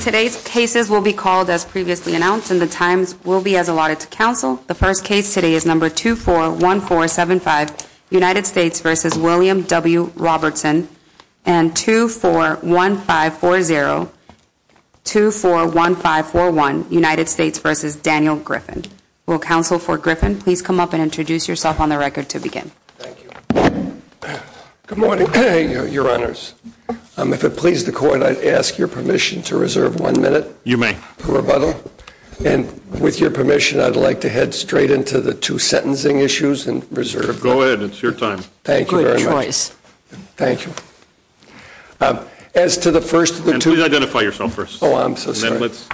Today's cases will be called as previously announced and the times will be as allotted to counsel. The first case today is number 241475 United States v. William W. Robertson and 241540-241541 United States v. Daniel Griffin. Will counsel for Griffin please come up and introduce yourself on the record to begin. Thank you. Good morning your honors. If it please the court I'd ask your permission to reserve one minute. You may. For rebuttal and with your permission I'd like to head straight into the two sentencing issues and reserve. Go ahead it's your time. Thank you very much. Great choice. Thank you. As to the first of the two. Please identify yourself first. Oh I'm so sorry. Let's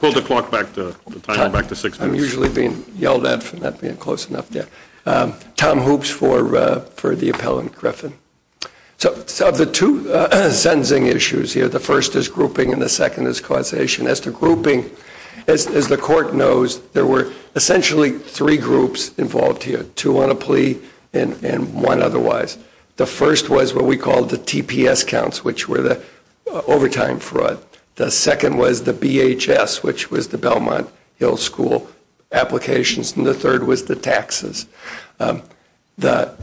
pull the clock back to the time back to six minutes. I'm usually being yelled at for not being close enough. Tom Hoopes for the appellant Griffin. So of the two sentencing issues here the first is grouping and the second is causation. As to grouping as the court knows there were essentially three groups involved here. Two on a plea and one otherwise. The first was what we called the TPS counts which were the overtime fraud. The second was the BHS which was the Belmont Hill School applications and the third was the taxes. The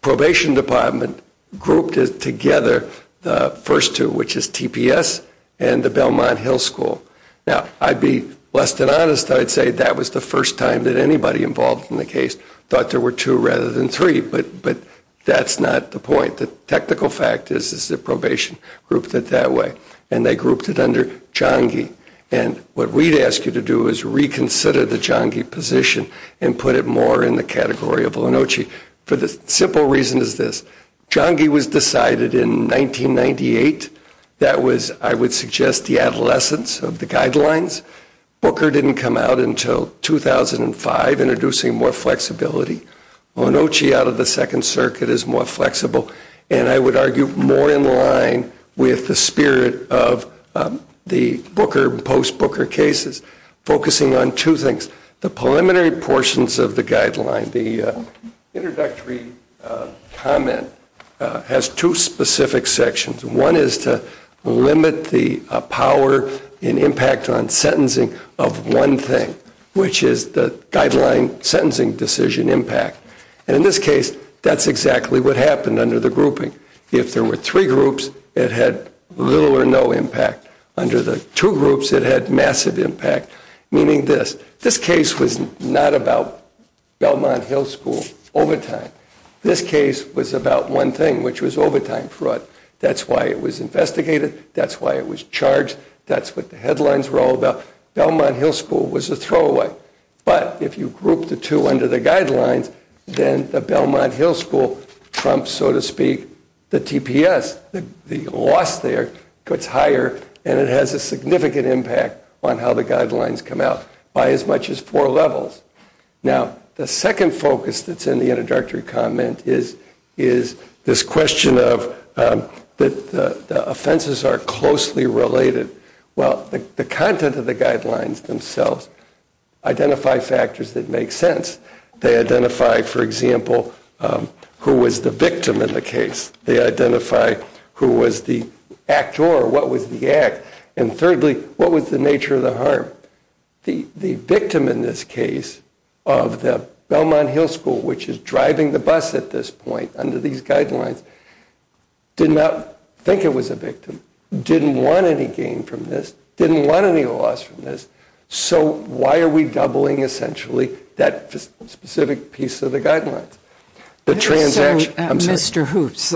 probation department grouped together the first two which is TPS and the Belmont Hill School. Now I'd be less than honest I'd say that was the first time that anybody involved in the case thought there were two rather than three but that's not the point. The technical fact is the probation grouped it that way and they grouped it under Jongi and what we'd ask you to do is reconsider the Jongi position and put it more in the category of Linocci for the simple reason is this. Jongi was decided in 1998. That was I would suggest the adolescence of the guidelines. Booker didn't come out until 2005 introducing more flexibility. Linocci out of the second circuit is more flexible and I would argue more in line with the spirit of the Booker post Booker cases focusing on two things. The preliminary portions of the guidelines, the introductory comment has two specific sections. One is to limit the power and impact on sentencing of one thing which is the guideline sentencing decision impact and in this case that's exactly what happened under the grouping. If there were three groups it had little or no impact. Under the two groups it had massive impact meaning this. This case was not about Belmont Hill School overtime. This case was about one thing which was overtime fraud. That's why it was investigated. That's why it was charged. That's what the headlines were all about. Belmont Hill School was a throwaway but if you group the two under the guidelines then the Belmont Hill School trumps so to speak the TPS. The loss there gets higher and it has a greater impact on how the guidelines come out by as much as four levels. Now the second focus that's in the introductory comment is this question of that the offenses are closely related. Well the content of the guidelines themselves identify factors that make sense. They identify for example who was the victim in the case. They identify who was the actor or what was the act and thirdly what was the nature of the harm. The victim in this case of the Belmont Hill School which is driving the bus at this point under these guidelines did not think it was a victim. Didn't want any gain from this. Didn't want any loss from this. So why are we doubling essentially that specific piece of the guidelines. Mr. Hoops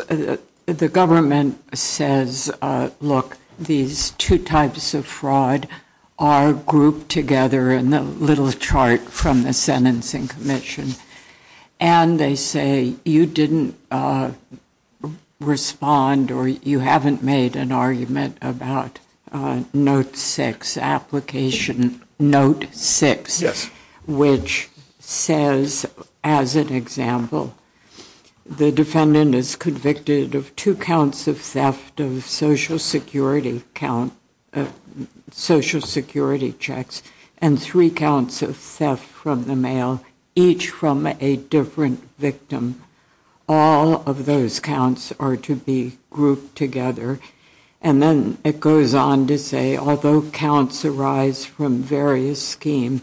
the government says look these two types of fraud are grouped together in the little chart from the sentencing commission and they say you didn't respond or you haven't made an argument about note six application note six. Yes. Which says as an example the defendant is convicted of two counts of theft of social security count social security checks and three counts of theft from the mail each from a different victim. All of those counts are to be grouped together. And then it goes on to say although counts arise from various scheme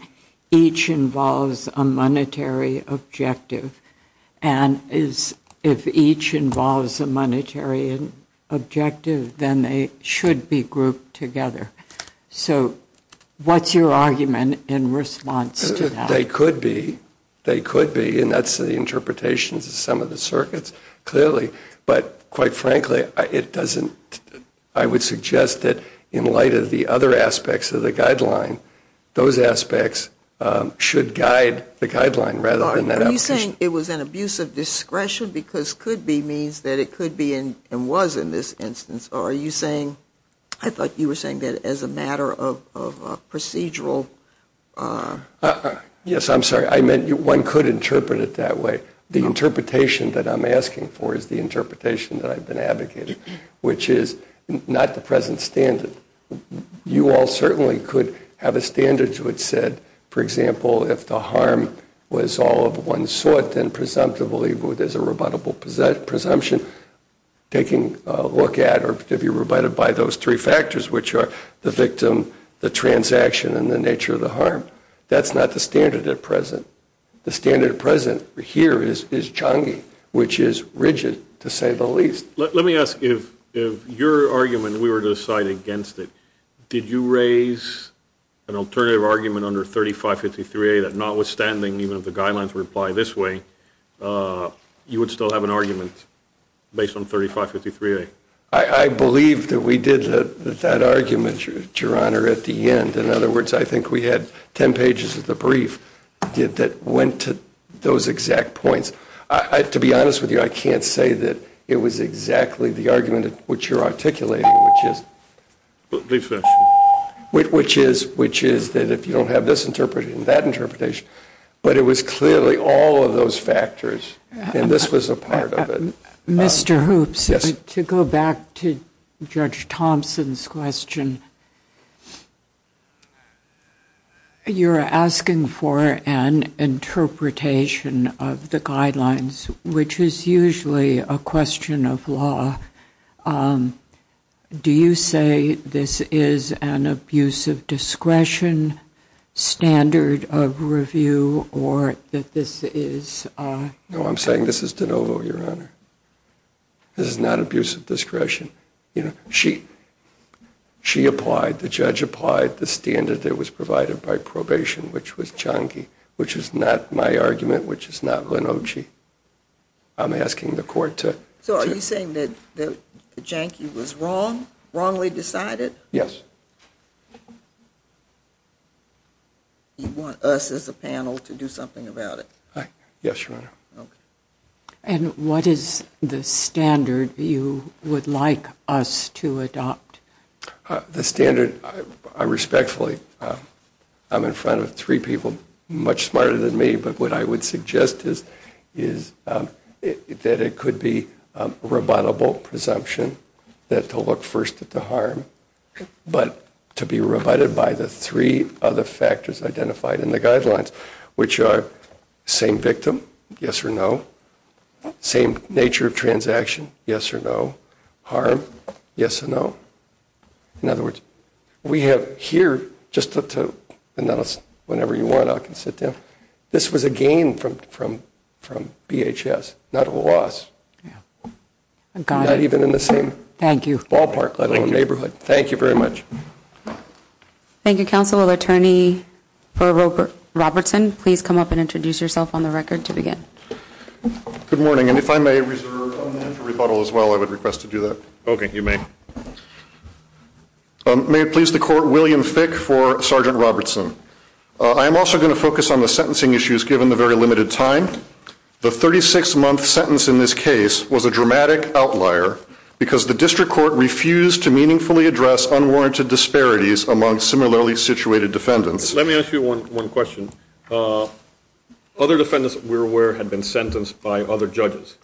each involves a monetary objective and is if each involves a monetary objective then they should be grouped together. So what's your argument in response to that. They could be they could be and that's the interpretations of some of the circuits clearly but quite frankly it doesn't. I would suggest that in light of the other aspects of the guideline those aspects should guide the guideline rather than saying it was an abuse of discretion because could be means that it could be in and was in this instance. Are you saying I thought you were saying that as a matter of procedural. Yes I'm sorry. I meant one could interpret it that way. The interpretation that I'm asking for is the interpretation that I've been advocating which is not the present standard. You all certainly could have a standard which said for example if the harm was all of one sort then presumptively there's a rebuttable presumption taking a look at or to be rebutted by those three factors which are the victim the transaction and the harm. That's not the standard at present. The standard present here is is Changi which is rigid to say the least. Let me ask if your argument we were to decide against it. Did you raise an alternative argument under 35 53 that notwithstanding even if the guidelines reply this way you would still have an argument based on 35 53. I believe that we did that argument your honor at the end. In other words I think we had 10 pages of the brief that went to those exact points. To be honest with you I can't say that it was exactly the argument which you're articulating which is which is which is that if you don't have this interpreted in that interpretation but it was clearly all of those factors and this was a part of it. Mr. Hoops to go back to Judge Thompson's question. You're asking for an interpretation of the guidelines which is usually a question of law. Do you say this is an abuse of discretion standard of review or that this is. No I'm saying this is DeNovo your honor. This is not abuse of discretion. You know she she applied the standard that was provided by probation which was chunky which is not my argument which is not Lino G. I'm asking the court to. So are you saying that the janky was wrong wrongly decided. Yes. You want us as a panel to do something about it. Yes your honor. And what is the standard you would like us to adopt the standard. I respectfully I'm in front of three people much smarter than me. But what I would suggest is is that it could be rebuttable presumption that to look first at the harm but to be rebutted by the three other factors identified in the action. Yes or no harm. Yes or no. In other words we have here just to announce whenever you want I can sit down. This was a game from from from BHS not a loss. I've got it even in the same. Thank you. Ballpark neighborhood. Thank you very much. Thank you counsel of attorney for Robert Robertson. Please come up and introduce yourself on the record to begin. Good morning. And if I may reserve a rebuttal as well I would request to do that. OK. You may. May it please the court. William Fick for Sergeant Robertson. I am also going to focus on the sentencing issues given the very limited time. The 36 month sentence in this case was a dramatic outlier because the district court refused to meaningfully address unwarranted disparities among similarly situated defendants. Let me ask you one question. Other defendants we're aware had been sentenced by other judges.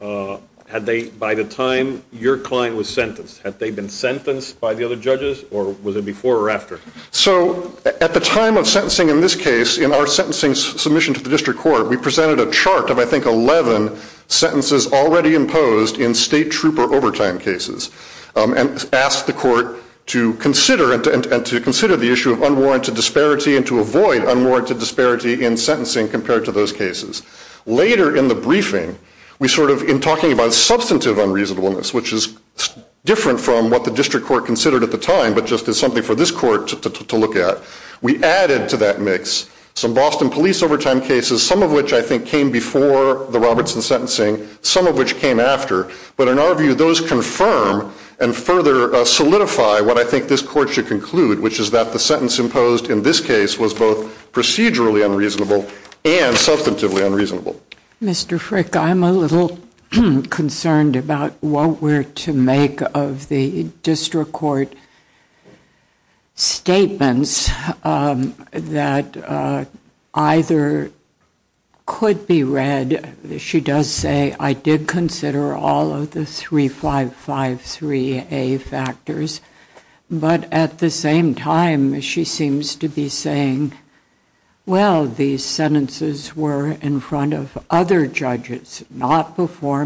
Had they by the time your client was sentenced had they been sentenced by the other judges or was it before or after. So at the time of sentencing in this case in our sentencing submission to the district court we presented a chart of I think 11 sentences already imposed in state trooper overtime cases and asked the court to consider and to consider the issue of unwarranted disparity and to avoid unwarranted disparity in sentencing compared to those cases. Later in the briefing we sort of in talking about substantive unreasonableness which is different from what the district court considered at the time but just as something for this court to look at. We added to that mix some Boston police overtime cases some of which I think came before the Robertson sentencing some of which came after. But in our view those confirm and further solidify what I think this court should conclude which is that the sentence imposed in this case was both procedurally unreasonable and substantively unreasonable. Mr. Frick I'm a little concerned about what we're to make of the district court statements that either could be read. She does say I did consider all of the 3553A factors but at the same time she seems to be saying well these sentences were in front of the district court and I don't think they were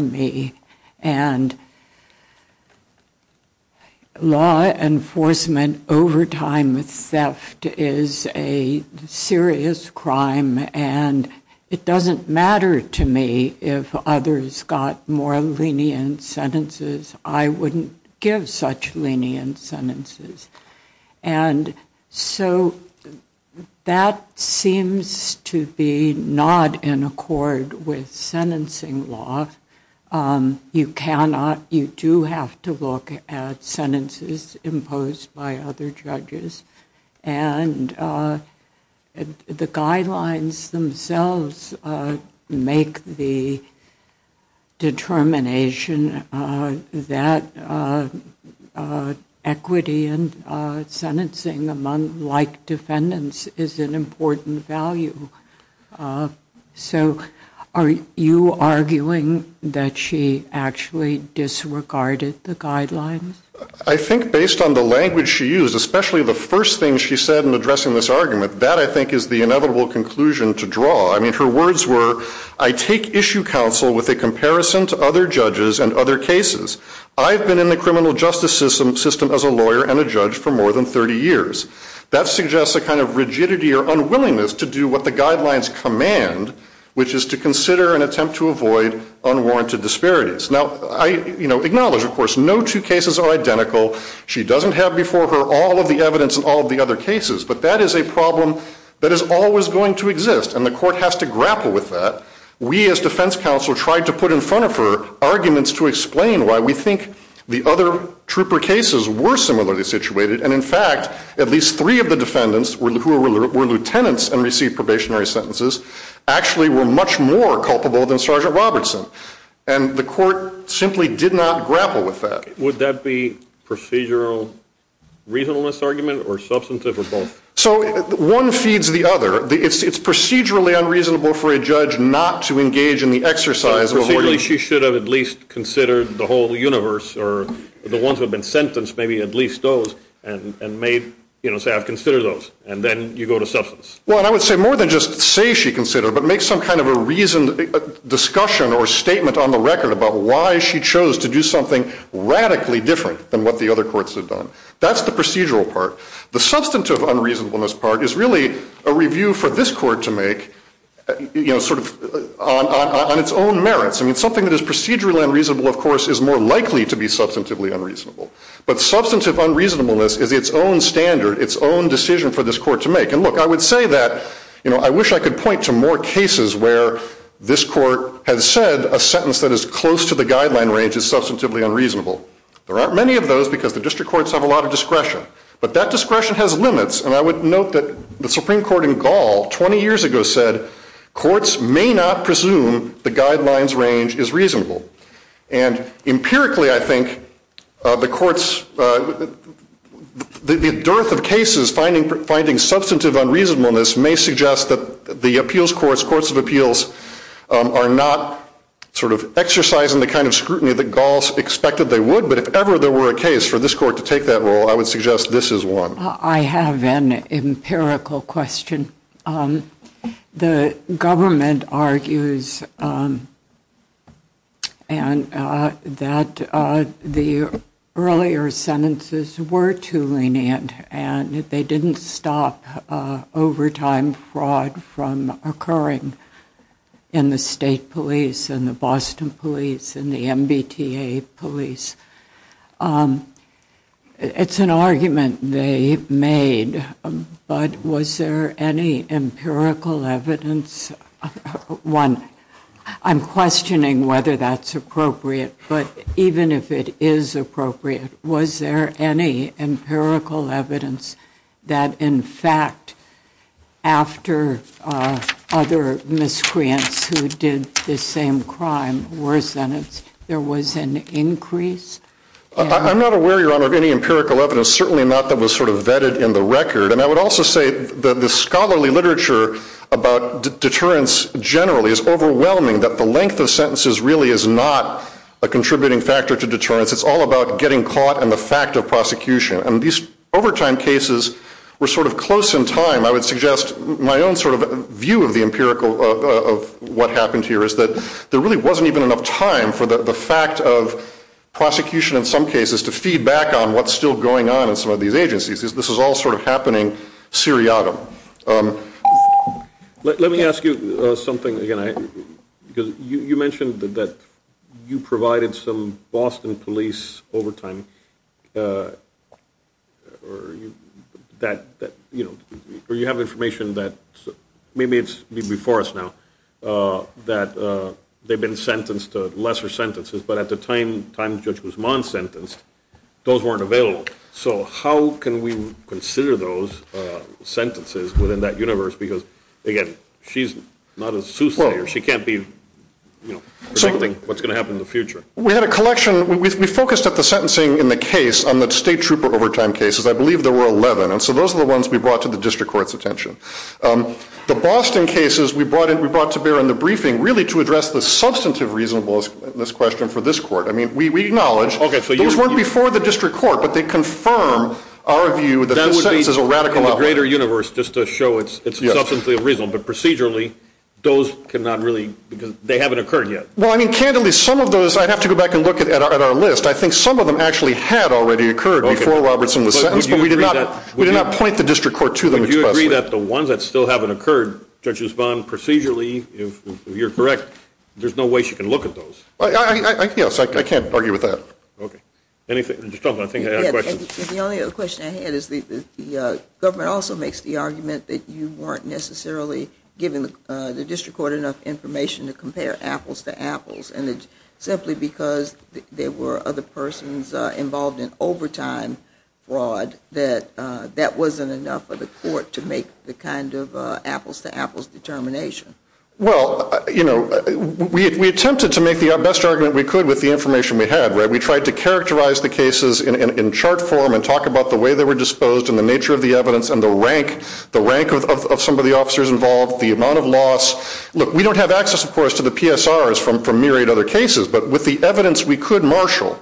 in front of the district court. I don't think they were in front of other judges not before me and law enforcement overtime theft is a serious crime and it doesn't matter to me if others got more lenient sentences. I wouldn't give such lenient sentences and so that seems to be not in accord with the district court's position on this issue. I think it's in accord with sentencing law. You do have to look at sentences imposed by other judges and the guidelines themselves make the determination that equity and sentencing among like defendants is an important value. Are you arguing that she actually disregarded the guidelines? I think based on the language she used especially the first thing she said in addressing this argument that I think is the inevitable conclusion to draw. I mean her words were I take issue counsel with a comparison to other judges and other cases. I've been in the criminal justice system as a lawyer and a judge for more than 30 years. That suggests a kind of rigidity or unwillingness to do what the guidelines command which is to consider and attempt to avoid unwarranted disparities. Now I acknowledge of course no two cases are identical. She doesn't have before her all of the evidence in all of the other cases but that is a problem that is always going to exist and the court has to grapple with that. We as defense counsel tried to put in front of her arguments to explain why we think the other trooper cases were similarly situated and in fact at least three of the defendants who were lieutenants and received probationary sentences actually were much more culpable than Sergeant Robertson. And the court simply did not grapple with that. Would that be procedural reasonableness argument or substantive or both? So one feeds the other. It's procedurally unreasonable for a judge not to engage in the exercise of a warning. So procedurally she should have at least considered the whole universe or the ones who have been sentenced maybe at least those and made, you know, say I've considered those and then you go to substance. Well I would say more than just say she considered but make some kind of a reason, discussion or statement on the record about why she chose to do something radically different than what the other courts have done. That's the procedural part. The substantive unreasonableness part is really a review for this court to make, you know, sort of on its own merits. I mean something that is procedurally unreasonable of course is more likely to be substantively unreasonable. But substantive unreasonableness is its own standard, its own decision for this court to make. And look, I would say that, you know, I wish I could point to more cases where this court has said a sentence that is close to the guideline range is substantively unreasonable. There aren't many of those because the district courts have a lot of discretion. But that discretion has limits and I would note that the Supreme Court in Gaul 20 years ago said courts may not presume the guidelines range is reasonable. And empirically I think the courts, the dearth of cases finding substantive unreasonableness may suggest that the appeals courts, courts of appeals are not sort of exercising the kind of scrutiny that Gauls expected they would. But if ever there were a case for this court to take that role, I would suggest this is one. I have an empirical question. The government argues that the earlier sentences were too lenient and that they didn't stop overtime fraud from occurring in the state police, in the Boston police, in the MBTA police. It's an argument they made, but was there any empirical evidence, one, I'm questioning whether that's appropriate, but even if it is appropriate, was there any empirical evidence that in fact after other miscreants who did the same crime were sentenced, there was an increase in the number of miscreants? I'm not aware, Your Honor, of any empirical evidence, certainly not that was sort of vetted in the record. And I would also say that the scholarly literature about deterrence generally is overwhelming, that the length of sentences really is not a contributing factor to deterrence. It's all about getting caught and the fact of prosecution. And these overtime cases were sort of close in time. I would suggest my own sort of view of the empirical of what happened here is that there really wasn't even enough time for the fact of prosecution in some cases to feed back on what's still going on in some of these agencies. This is all sort of happening seriatim. Let me ask you something again. You mentioned that you provided some Boston police overtime, or you have information that maybe it's before us now, that they've been sentenced to lesser sentences, but at the time Judge Guzman was sentenced, those weren't available. So how can we consider those sentences within that universe? Because, again, she's not a soothsayer. She can't be predicting what's going to happen in the future. We had a collection. We focused at the sentencing in the case on the state trooper overtime cases. I believe there were 11. And so those are the ones we brought to the district court's attention. The Boston cases we brought to bear in the briefing really to address the substantive reasonableness question for this court. We acknowledge those weren't before the district court, but they confirm our view that the sentence is a radical upheaval. That would be in the greater universe, just to show it's substantially reasonable. But procedurally, those cannot really, because they haven't occurred yet. Well, I mean, candidly, some of those, I'd have to go back and look at our list. I think some of them actually had already occurred before Robertson was sentenced, but we did not point the district court to them expressly. Would you agree that the ones that still haven't occurred, Judge Guzman, procedurally, if you're correct, there's no way she can look at those? Yes, I can't argue with that. Anything, I think I had a question. The only other question I had is the government also makes the argument that you weren't necessarily giving the district court enough information to compare apples to apples. And simply because there were other persons involved in overtime fraud, that that wasn't enough for the court to make the kind of apples to apples determination. Well, you know, we attempted to make the best argument we could with the information we had, right? We tried to characterize the cases in chart form and talk about the way they were disposed and the nature of the evidence and the rank, the rank of some of the officers involved, the amount of loss. Look, we don't have access, of course, to the PSRs from from myriad other cases. But with the evidence we could marshal,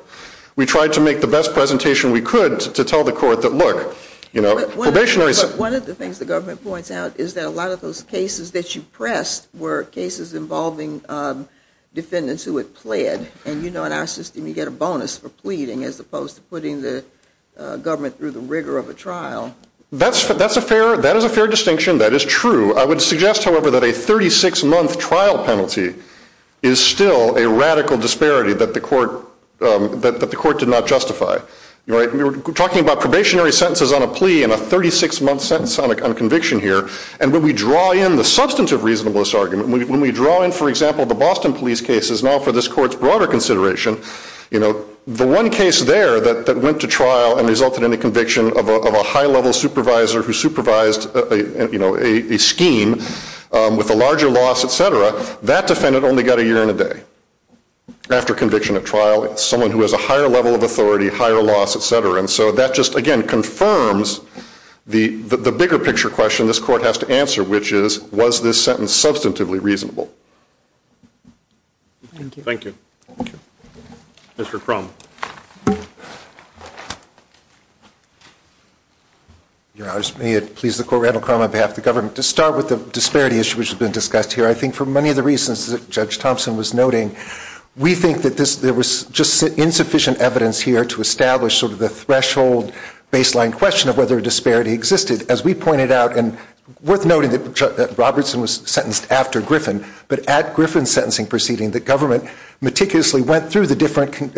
we tried to make the best presentation we could to tell the court that, look, you know, probationary. One of the things the government points out is that a lot of those cases that you pressed were cases involving defendants who had pled. And, you know, in our system, you get a bonus for pleading as opposed to putting the government through the rigor of a trial. That's that's a fair that is a fair distinction. That is true. I would suggest, however, that a 36 month trial penalty is still a radical disparity that the court that the court did not justify. We were talking about probationary sentences on a plea and a 36 month sentence on a conviction here. And when we draw in the substantive reasonableness argument, when we draw in, for example, the Boston police cases now for this court's broader consideration, you know, the one case there that went to trial and resulted in a conviction of a high level supervisor who supervised a scheme with a larger loss, et cetera. That defendant only got a year and a day after conviction of trial. It's someone who has a higher level of authority, higher loss, et cetera. And so that just, again, confirms the the bigger picture question this court has to answer, which is, was this sentence substantively reasonable? Thank you. Mr. Crum. Your Honor, may it please the court, Randall Crum on behalf of the government to start with the disparity issue, which has been discussed here. I think for many of the reasons that Judge Thompson was noting, we think that there was just insufficient evidence here to establish sort of the threshold, baseline question of whether a disparity existed. As we pointed out, and worth noting that Robertson was sentenced after Griffin, but at Griffin's sentencing proceeding, the government meticulously went through the different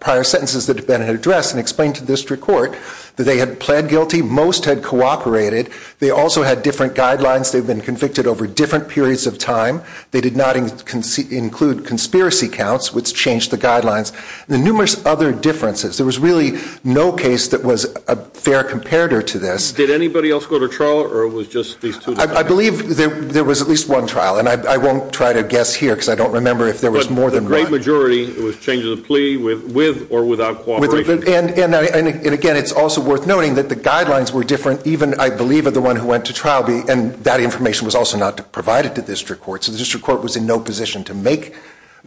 prior sentences that have been addressed and explained to district court that they had pled guilty, most had cooperated. They also had different guidelines. They've been convicted over different periods of time. They did not include conspiracy counts, which changed the guidelines. The numerous other differences, there was really no case that was a fair comparator to this. Did anybody else go to trial or it was just these two? I believe there was at least one trial, and I won't try to guess here because I don't remember if there was more than one. But the great majority, it was changes of plea with or without cooperation. And again, it's also worth noting that the guidelines were different, even I believe of the one who went to trial, and that information was also not provided to district court. So the district court was in no position to make,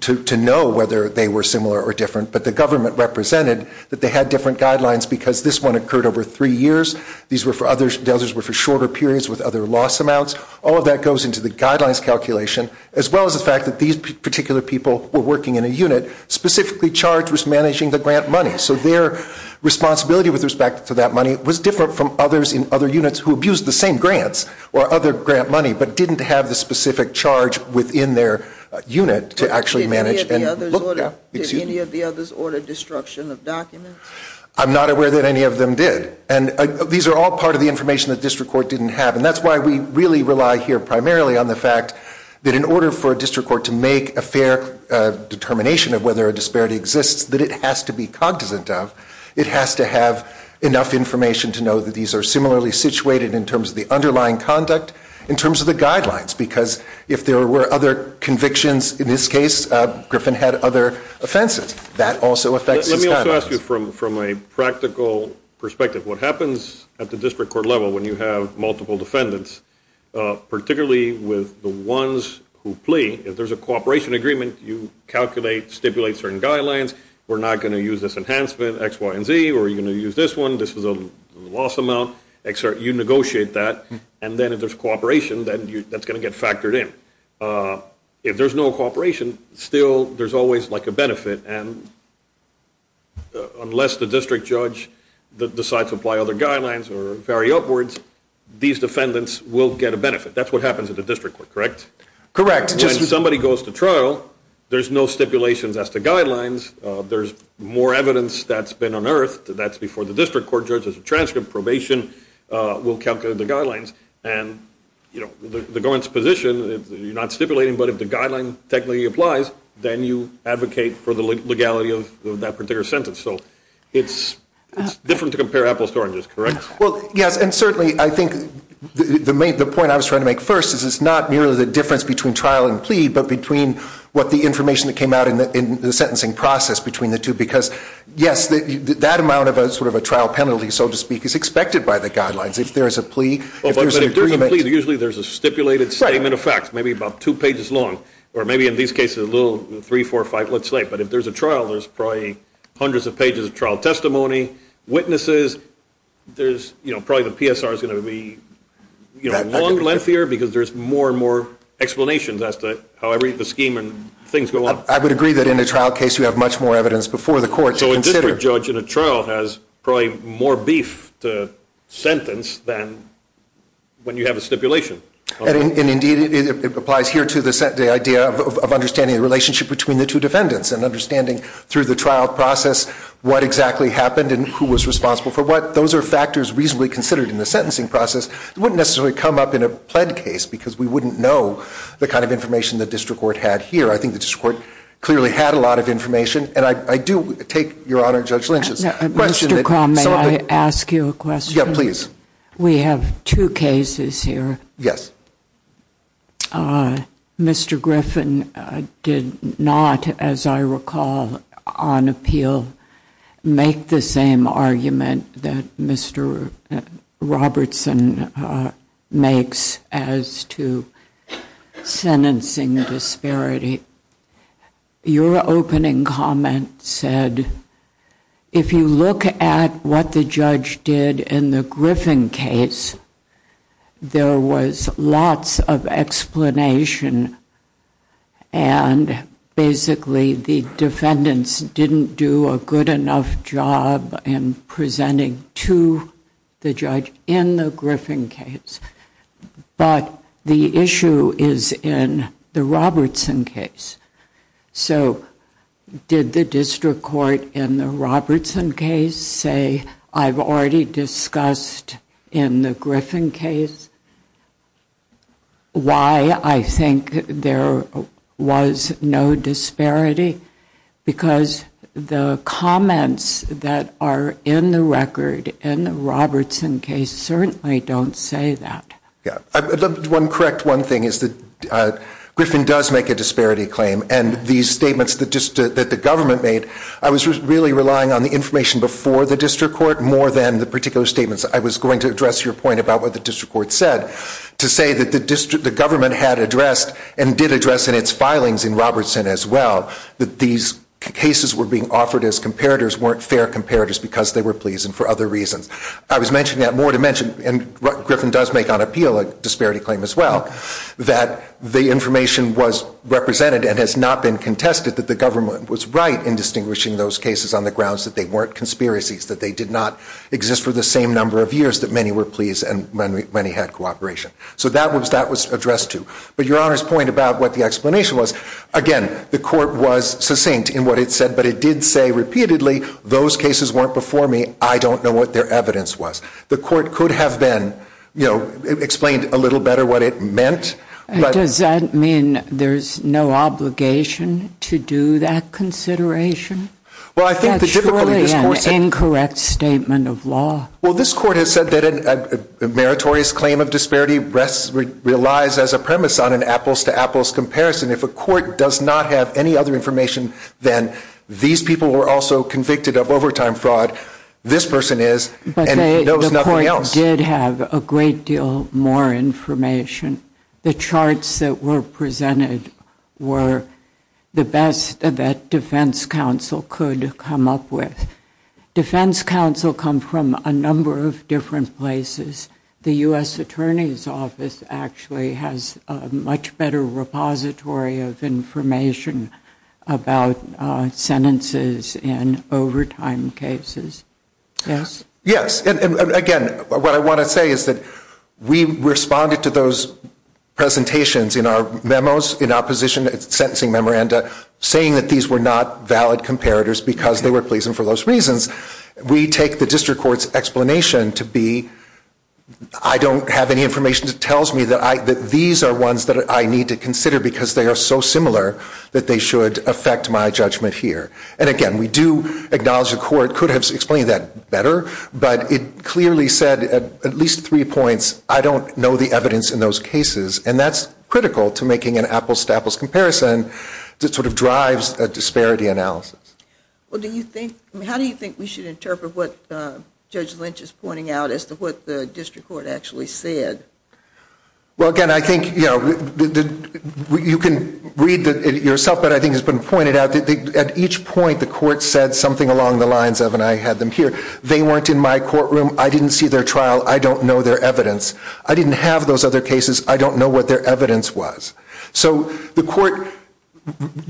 to know whether they were similar or different. But the government represented that they had different guidelines because this one occurred over three years. These were for other, those were for shorter periods with other loss amounts. All of that goes into the guidelines calculation, as well as the fact that these particular people were working in a unit specifically charged with managing the grant money. So their responsibility with respect to that money was different from others in other units who abused the same grants or other grant money, but didn't have the specific charge within their unit to actually manage. Did any of the others order destruction of documents? I'm not aware that any of them did. And these are all part of the information that district court didn't have. And that's why we really rely here primarily on the fact that in order for a district court to make a fair determination of whether a disparity exists, that it has to be cognizant of, it has to have enough information to know that these are similarly situated in terms of the underlying conduct, in terms of the guidelines, because if there were other convictions, in this case, Griffin had other offenses, that also affects his guidelines. Let me also ask you from a practical perspective, what happens at the district court level when you have multiple defendants, particularly with the ones who plea, if there's a cooperation agreement, you calculate, stipulate certain guidelines, we're not going to use this enhancement, X, Y, and Z, or you're going to use this one, this is a loss amount, you negotiate that, and then if there's cooperation, that's going to get factored in. If there's no cooperation, still there's always like a benefit, and unless the district judge decides to apply other guidelines or vary upwards, these defendants will get a benefit. That's what happens at the district court, correct? When somebody goes to trial, there's no stipulations as to guidelines, there's more evidence that's been unearthed, that's before the district court, judge has a transcript, probation will calculate the guidelines, and the government's position, you're not stipulating, but if the guideline technically applies, then you advocate for the legality of that particular sentence. So it's different to compare apples to oranges, correct? Well, yes, and certainly I think the point I was trying to make first is it's not merely the difference between trial and plea, but between what the information that came out in the sentencing process between the two, because yes, that amount of a sort of a trial penalty, so to speak, is expected by the guidelines. If there's a plea, if there's an agreement. Usually there's a stipulated statement of facts, maybe about two pages long, or maybe in these cases a little three, four, five, let's say, but if there's a trial, there's probably hundreds of pages of trial testimony, witnesses, there's, you know, probably the PSR is going to be, you know, long, lengthier, because there's more and more explanations as to how the scheme and things go on. I would agree that in a trial case, you have much more evidence before the court to consider. So a district judge in a trial has probably more beef to sentence than when you have a stipulation. And indeed, it applies here to the idea of understanding the relationship between the two defendants, and understanding through the trial process what exactly happened and who was responsible for what. Those are factors reasonably considered in the sentencing process. It wouldn't necessarily come up in a pled case, because we wouldn't know the kind of information the district court had here. I think the district court clearly had a lot of information. And I do take your honor, Judge Lynch's question. Mr. Cromb, may I ask you a question? Yeah, please. We have two cases here. Yes. Mr. Griffin did not, as I recall, on appeal, make the same argument that Mr. Robertson makes as to sentencing disparity. Your opening comment said, if you look at what the judge did in the Griffin case, there was lots of explanation. And basically, the defendants didn't do a good enough job in presenting to the judge in the Griffin case. But the issue is in the Robertson case. So did the district court in the Robertson case say, I've already discussed in the Griffin case why I think there was no disparity? Because the comments that are in the record in the Robertson case certainly don't say that. Yeah, correct. One thing is that Griffin does make a disparity claim. And these statements that the government made, I was really relying on the information before the district court more than the particular statements. I was going to address your point about what the district court said, to say that the government had addressed and did address in its filings in Robertson as well. That these cases were being offered as comparators, weren't fair comparators, because they were pleasing for other reasons. I was mentioning that more to mention, and Griffin does make on appeal a disparity claim as well. That the information was represented and has not been contested that the government was right in distinguishing those cases on the grounds that they weren't conspiracies. That they did not exist for the same number of years that many were pleased and many had cooperation. So that was addressed too. But your Honor's point about what the explanation was, again, the court was succinct in what it said. But it did say repeatedly, those cases weren't before me. I don't know what their evidence was. The court could have been, you know, explained a little better what it meant. Does that mean there's no obligation to do that consideration? Well, I think the difficulty of this court said- That's really an incorrect statement of law. Well, this court has said that a meritorious claim of disparity relies as a premise on an apples-to-apples comparison. If a court does not have any other information, then these people were also convicted of overtime fraud. This person is, and knows nothing else. But the court did have a great deal more information. The charts that were presented were the best that defense counsel could come up with. Defense counsel come from a number of different places. The U.S. Attorney's Office actually has a much better repository of information about sentences in overtime cases. Yes? Yes, and again, what I want to say is that we responded to those presentations in our memos, in opposition to the sentencing memoranda, saying that these were not valid comparators because they were pleasant for those reasons. We take the district court's explanation to be, I don't have any information that tells me that these are ones that I need to consider because they are so similar that they should affect my judgment here. And again, we do acknowledge the court could have explained that better. But it clearly said at least three points, I don't know the evidence in those cases. And that's critical to making an apples-to-apples comparison that sort of drives a disparity analysis. Well, how do you think we should interpret what Judge Lynch is pointing out as to what the district court actually said? Well, again, I think you can read it yourself, but I think it's been pointed out that at each point, the court said something along the lines of, and I had them here, they weren't in my courtroom, I didn't see their trial, I don't know their evidence. I didn't have those other cases, I don't know what their evidence was. So the court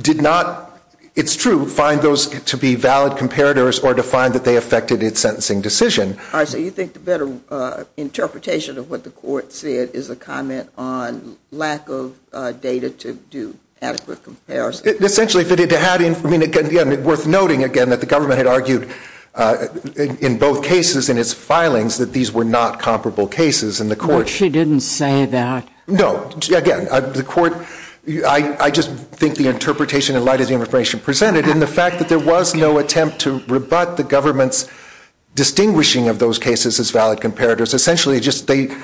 did not, it's true, find those to be valid comparators or to find that they affected its sentencing decision. All right, so you think the better interpretation of what the court said is a comment on lack of data to do adequate comparison? Essentially, if it had, I mean, again, worth noting again that the government had argued in both cases in its filings that these were not comparable cases, and the court... But she didn't say that. No, again, the court, I just think the interpretation in light of the information presented and the fact that there was no attempt to rebut the government's distinguishing of those cases as valid comparators. Essentially, they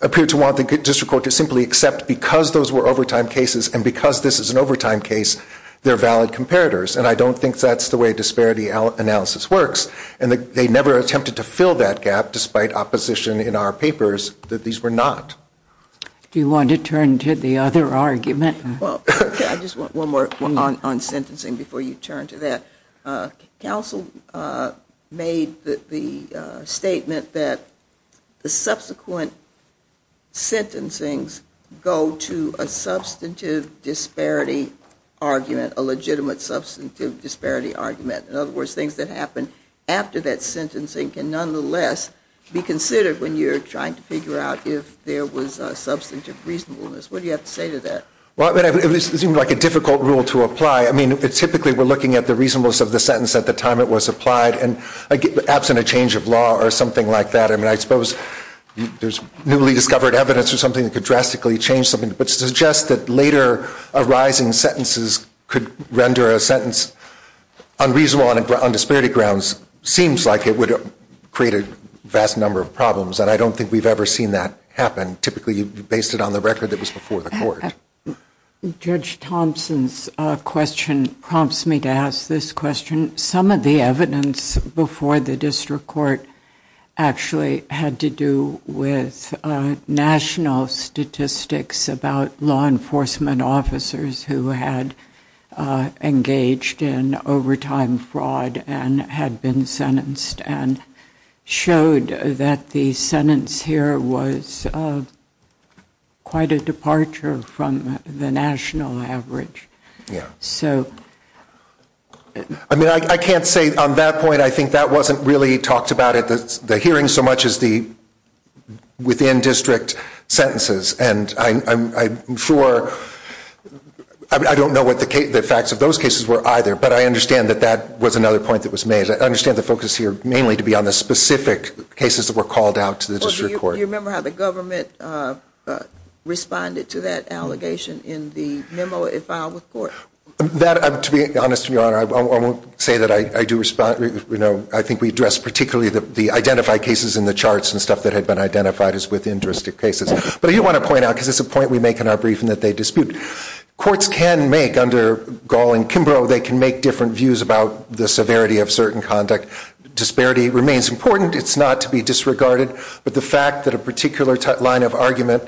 appeared to want the district court to simply accept because those were overtime cases and because this is an overtime case, they're valid comparators. And I don't think that's the way disparity analysis works. And they never attempted to fill that gap despite opposition in our papers that these were not. Do you want to turn to the other argument? Well, I just want one more on sentencing before you turn to that. Counsel made the statement that the subsequent sentencings go to a substantive disparity argument, a legitimate substantive disparity argument. In other words, things that happen after that sentencing can nonetheless be considered when you're trying to figure out if there was a substantive reasonableness. What do you have to say to that? Well, it seemed like a difficult rule to apply. I mean, typically, we're looking at the reasonableness of the sentence at the time it was applied and absent a change of law or something like that. I mean, I suppose there's newly discovered evidence or something that could drastically change something but suggests that later arising sentences could render a sentence unreasonable on disparity grounds. Seems like it would create a vast number of problems. And I don't think we've ever seen that happen. Typically, you base it on the record that was before the court. Judge Thompson's question prompts me to ask this question. Some of the evidence before the district court actually had to do with national statistics about law enforcement officers who had engaged in overtime fraud and had been sentenced and showed that the sentence here was quite a departure from the national average. So... I mean, I can't say on that point, I think that wasn't really talked about at the hearing so much as the within district sentences. And I'm sure, I don't know what the facts of those cases were either, but I understand that that was another point that was made. I understand the focus here mainly to be on the specific cases that were called out to the district court. Do you remember how the government responded to that allegation in the memo it filed with court? To be honest, Your Honor, I won't say that I do respond. I think we addressed particularly the identified cases in the charts and stuff that had been identified as within district cases. But I do want to point out, because it's a point we make in our briefing, that they dispute. Courts can make, under Gall and Kimbrough, they can make different views about the severity of certain conduct. Disparity remains important. It's not to be disregarded. But the fact that a particular line of argument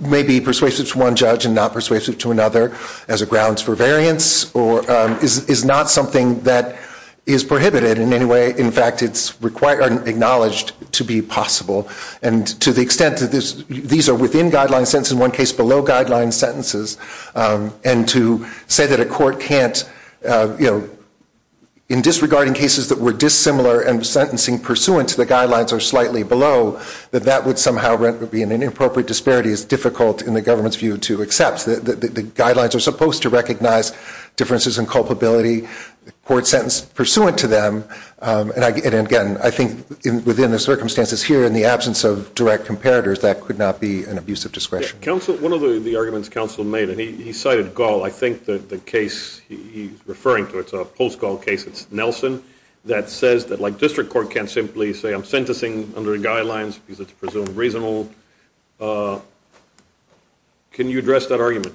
may be persuasive to one judge and not persuasive to another as a grounds for variance is not something that is prohibited in any way. In fact, it's acknowledged to be possible. And to the extent that these are within guideline sentences, in one case below guideline sentences, and to say that a court can't, in disregarding cases that were dissimilar and sentencing pursuant to the guidelines or slightly below, that that would somehow be an inappropriate disparity is difficult, in the government's view, to accept. The guidelines are supposed to recognize differences in culpability, court sentence pursuant to them. And again, I think within the circumstances here, in the absence of direct comparators, that could not be an abuse of discretion. Counsel, one of the arguments counsel made, and he cited Gall, I think the case he's referring to, it's a post-Gall case, it's Nelson, that says that district court can't simply say, I'm sentencing under the guidelines because it's presumed reasonable. Can you address that argument?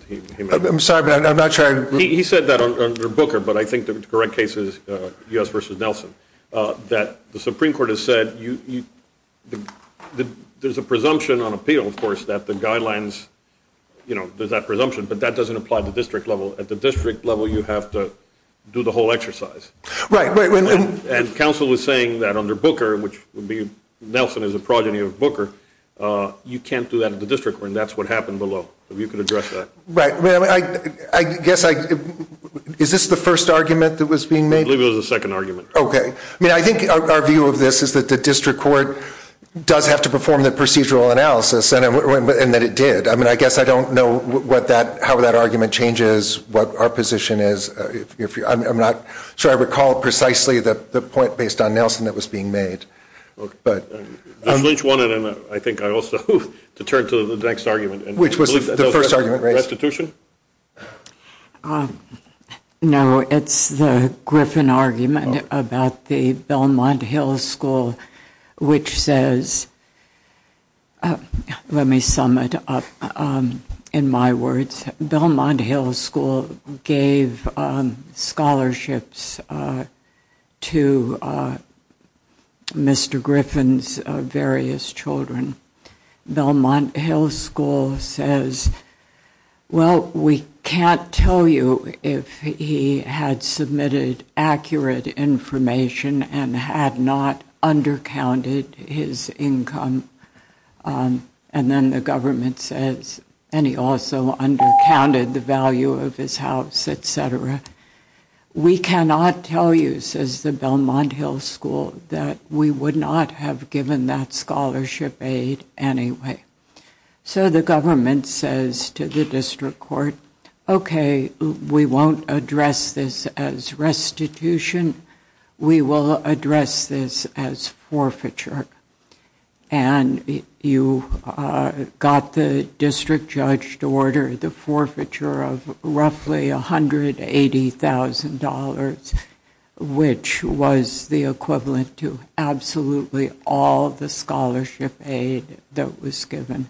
I'm sorry, but I'm not sure. He said that under Booker, but I think the correct case is U.S. versus Nelson, that the Supreme Court has said there's a presumption on appeal, of course, that the guidelines, there's that presumption, but that doesn't apply to district level. At the district level, you have to do the whole exercise. And counsel was saying that under Booker, which Nelson is a progeny of Booker, you can't do that at the district court, and that's what happened below. If you could address that. Right. Is this the first argument that was being made? I believe it was the second argument. OK. I mean, I think our view of this is that the district court does have to perform the procedural analysis, and that it did. I mean, I guess I don't know how that argument changes what our position is. I'm not sure I recall precisely the point based on Nelson that was being made. Judge Lynch wanted, I think, also to turn to the next argument. Which was the first argument? Restitution? No, it's the Griffin argument about the Belmont Hills School, which says, let me sum it up in my words. Belmont Hills School gave scholarships to Mr. Griffin's various children. Belmont Hills School says, well, we can't tell you if he had submitted accurate information and had not undercounted his income. And then the government says, and he also undercounted the value of his house, et cetera. We cannot tell you, says the Belmont Hills School, that we would not have given that scholarship aid anyway. So the government says to the district court, OK, we won't address this as restitution. We will address this as forfeiture. And you got the district judge to order the forfeiture of roughly $180,000, which was the equivalent to absolutely all the scholarship aid that was given.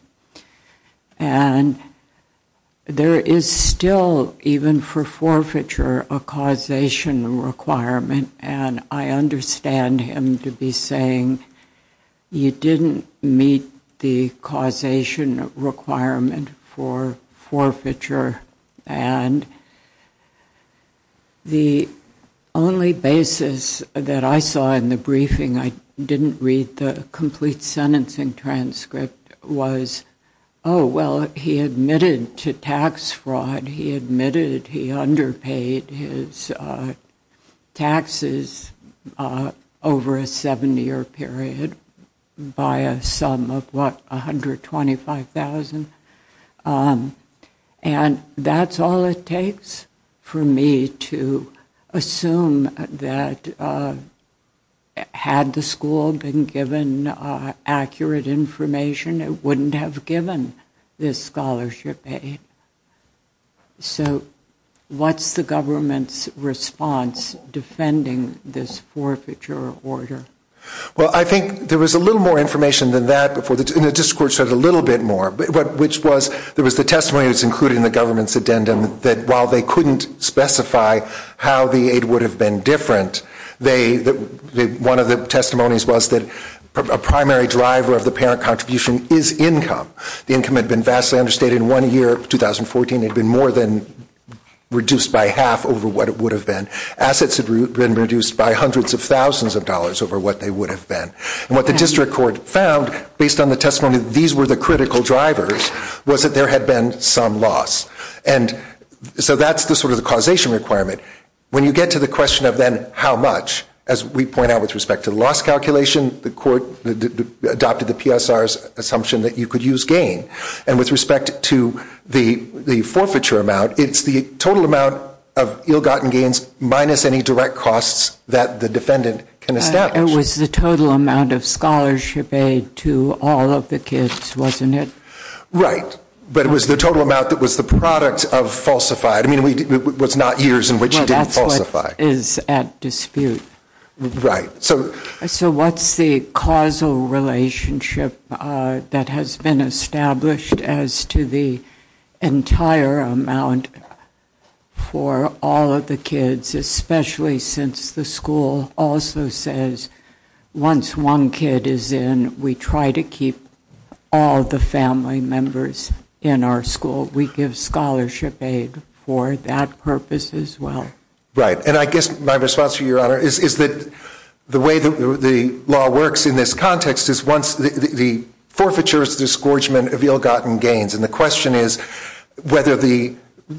And there is still, even for forfeiture, a causation requirement. And I understand him to be saying, you didn't meet the causation requirement for forfeiture. And the only basis that I saw in the briefing, I didn't read the complete sentencing transcript, was, oh, well, he admitted to tax fraud. He admitted he underpaid his taxes over a seven-year period by a sum of, what, $125,000. And that's all it takes for me to assume that, had the school been given accurate information, it wouldn't have given this scholarship aid. So what's the government's response defending this forfeiture order? Well, I think there was a little more information than that before the, and the district court said a little bit more. Which was, there was the testimony that's included in the government's addendum, that while they couldn't specify how the aid would have been different, one of the testimonies was that a primary driver of the parent contribution is income. The income had been vastly understated. One year, 2014, it had been more than reduced by half over what it would have been. Assets had been reduced by hundreds of thousands of dollars over what they would have been. And what the district court found, based on the testimony that these were the critical drivers, was that there had been some loss. And so that's the sort of the causation requirement. When you get to the question of then how much, as we point out with respect to the loss calculation, the court adopted the PSR's assumption that you could use gain. And with respect to the forfeiture amount, it's the total amount of ill-gotten gains minus any direct costs that the defendant can establish. It was the total amount of scholarship aid to all of the kids, wasn't it? Right. But it was the total amount that was the product of falsified. I mean, it was not years in which he didn't falsify. Well, that's what is at dispute. Right. So what's the causal relationship that has been established as to the entire amount for all of the kids, especially since the school also says once one kid is in, we try to keep all the family members in our school. We give scholarship aid for that purpose as well. Right. And I guess my response to you, Your Honor, is that the way that the law works in this context is once the forfeiture is the scorchment of ill-gotten gains. And the question is,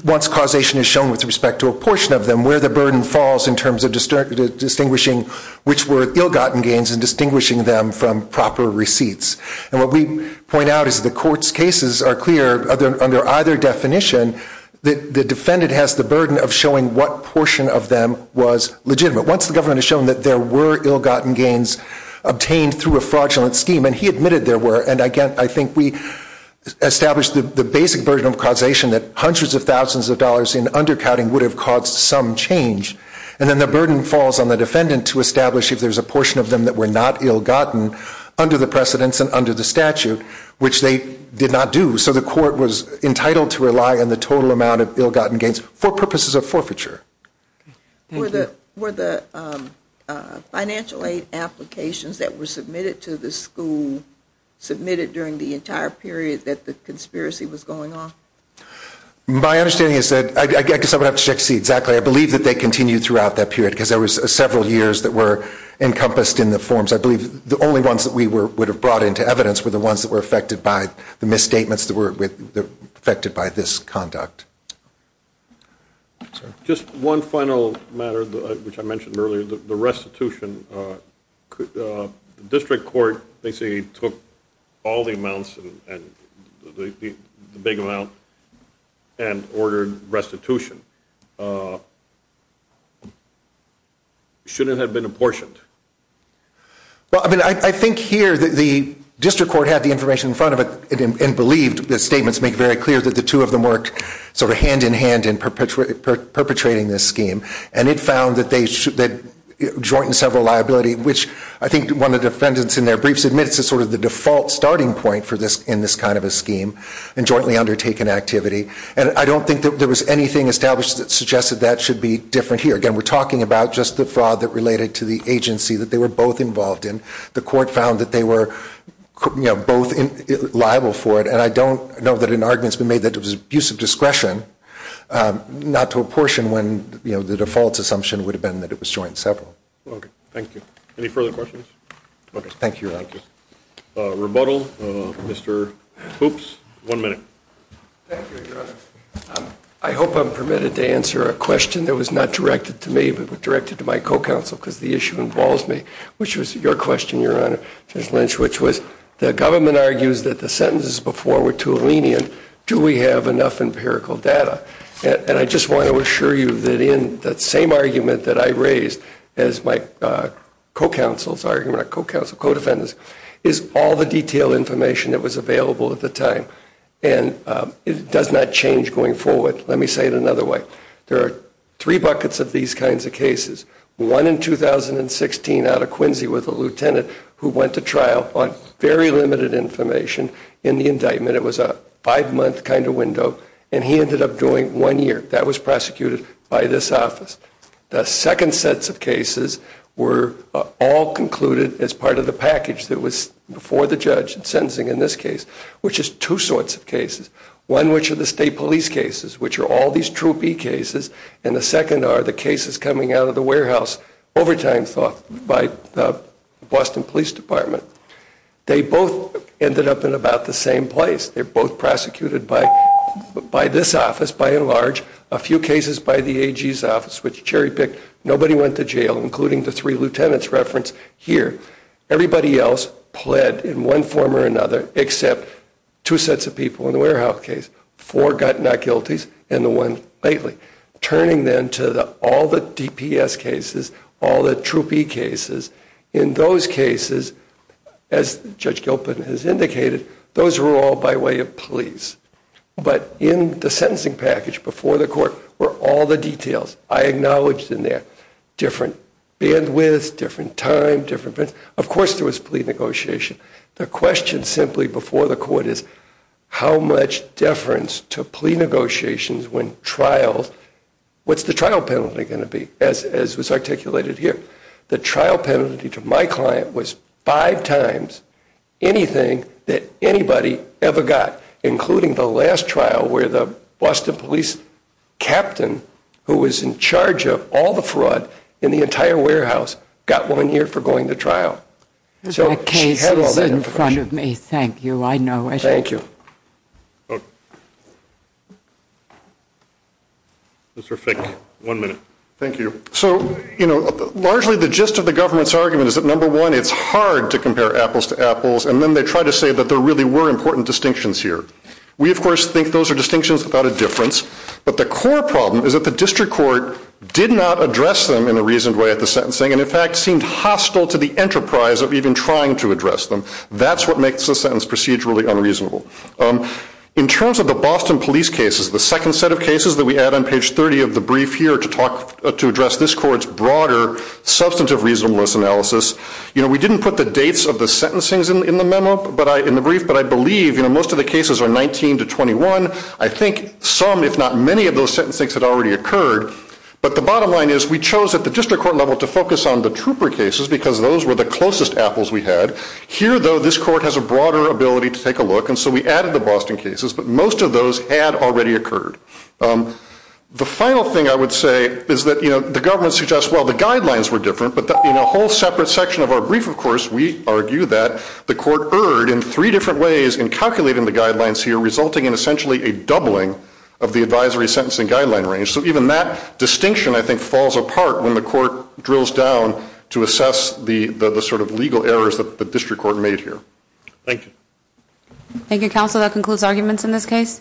once causation is shown with respect to a portion of them, where the burden falls in terms of distinguishing which were ill-gotten gains and distinguishing them from proper receipts. And what we point out is the court's cases are clear under either definition. The defendant has the burden of showing what portion of them was legitimate. Once the government has shown that there were ill-gotten gains obtained through a fraudulent scheme, and he admitted there were. And again, I think we establish the basic burden of causation that hundreds of thousands of dollars in undercounting would have caused some change. And then the burden falls on the defendant to establish if there's a portion of them that were not ill-gotten under the precedents and under the statute, which they did not do. So the court was entitled to rely on the total amount of ill-gotten gains for purposes of forfeiture. Were the financial aid applications that were submitted to the school submitted during the entire period that the conspiracy was going on? My understanding is that I guess I would have to check to see exactly. I believe that they continued throughout that period because there were several years that were encompassed in the forms. I believe the only ones that we would have brought into evidence were the ones that were affected by the misstatements that were affected by this conduct. Just one final matter, which I mentioned earlier, the restitution, the district court basically took all the amounts, the big amount, and ordered restitution. Shouldn't it have been apportioned? Well, I mean, I think here the district court had the information in front of it and believed the statements make very clear that the two of them worked sort of hand-in-hand in perpetrating this scheme. And it found that they had joint and several liability, which I think one of the defendants in their briefs admits is sort of the default starting point in this kind of a scheme and jointly undertaken activity. And I don't think that there was anything established that suggested that should be different here. Again, we're talking about just the fraud that related to the agency that they were both involved in. The court found that they were both liable for it. And I don't know that an argument's been made that it was abuse of discretion, not to apportion when the default assumption would have been that it was joint and several. OK. Thank you. Any further questions? Thank you, Your Honor. Thank you. Rebuttal, Mr. Hoopes. One minute. Thank you, Your Honor. I hope I'm permitted to answer a question that was not directed to me, but directed to my co-counsel because the issue involves me, which was your question, Your Honor, Judge Foreman, to a lenient, do we have enough empirical data? And I just want to assure you that in that same argument that I raised as my co-counsel's argument, our co-counsel, co-defendants, is all the detailed information that was available at the time. And it does not change going forward. Let me say it another way. There are three buckets of these kinds of cases. One in 2016 out of Quincy with a lieutenant who went to trial on very limited information in the indictment. It was a five-month kind of window. And he ended up doing one year. That was prosecuted by this office. The second sets of cases were all concluded as part of the package that was before the judge in sentencing in this case, which is two sorts of cases. One, which are the state police cases, which are all these Troop E cases. And the second are the cases coming out of the warehouse overtime by the Boston Police Department. They both ended up in about the same place. They're both prosecuted by this office, by and large, a few cases by the AG's office, which cherry-picked. Nobody went to jail, including the three lieutenants referenced here. Everybody else pled in one form or another, except two sets of people in the warehouse case. Four got not guilties, and the one lately. Turning then to all the DPS cases, all the Troop E cases, in those cases, as Judge Gilpin has indicated, those were all by way of police. But in the sentencing package before the court were all the details I acknowledged in there. Different bandwidths, different time, different events. Of course, there was plea negotiation. The question simply before the court is, how much deference to plea negotiations when trials, what's the trial penalty going to be, as was articulated here? The trial penalty to my client was five times anything that anybody ever got, including the last trial where the Boston police captain, who was in charge of all the fraud in the entire warehouse, got one year for going to trial. So she had all that information. The case is in front of me. Thank you. I know it. Thank you. Mr. Fick, one minute. Thank you. So largely, the gist of the government's argument is that, number one, it's hard to compare apples to apples. And then they try to say that there really were important distinctions here. We, of course, think those are distinctions without a difference. But the core problem is that the district court did not address them in a reasoned way at the sentencing, and in fact, seemed hostile to the enterprise of even trying to address them. That's what makes the sentence procedurally unreasonable. In terms of the Boston police cases, the second set of cases that we add on page 30 of the brief here to address this court's broader substantive reasonableness analysis, we didn't put the dates of the sentencing in the brief. But I believe most of the cases are 19 to 21. I think some, if not many, of those sentencing had already occurred. But the bottom line is we chose at the district court level to focus on the trooper cases because those were the closest apples we had. Here, though, this court has a broader ability to take a look. And so we added the Boston cases. But most of those had already occurred. The final thing I would say is that the government suggests, well, the guidelines were different. But in a whole separate section of our brief, of course, we argue that the court erred in three different ways in calculating the guidelines here, resulting in essentially a doubling of the advisory sentencing guideline range. So even that distinction, I think, falls apart when the court drills down to assess the sort of legal errors that the district court made here. Thank you. Thank you, counsel. That concludes arguments in this case.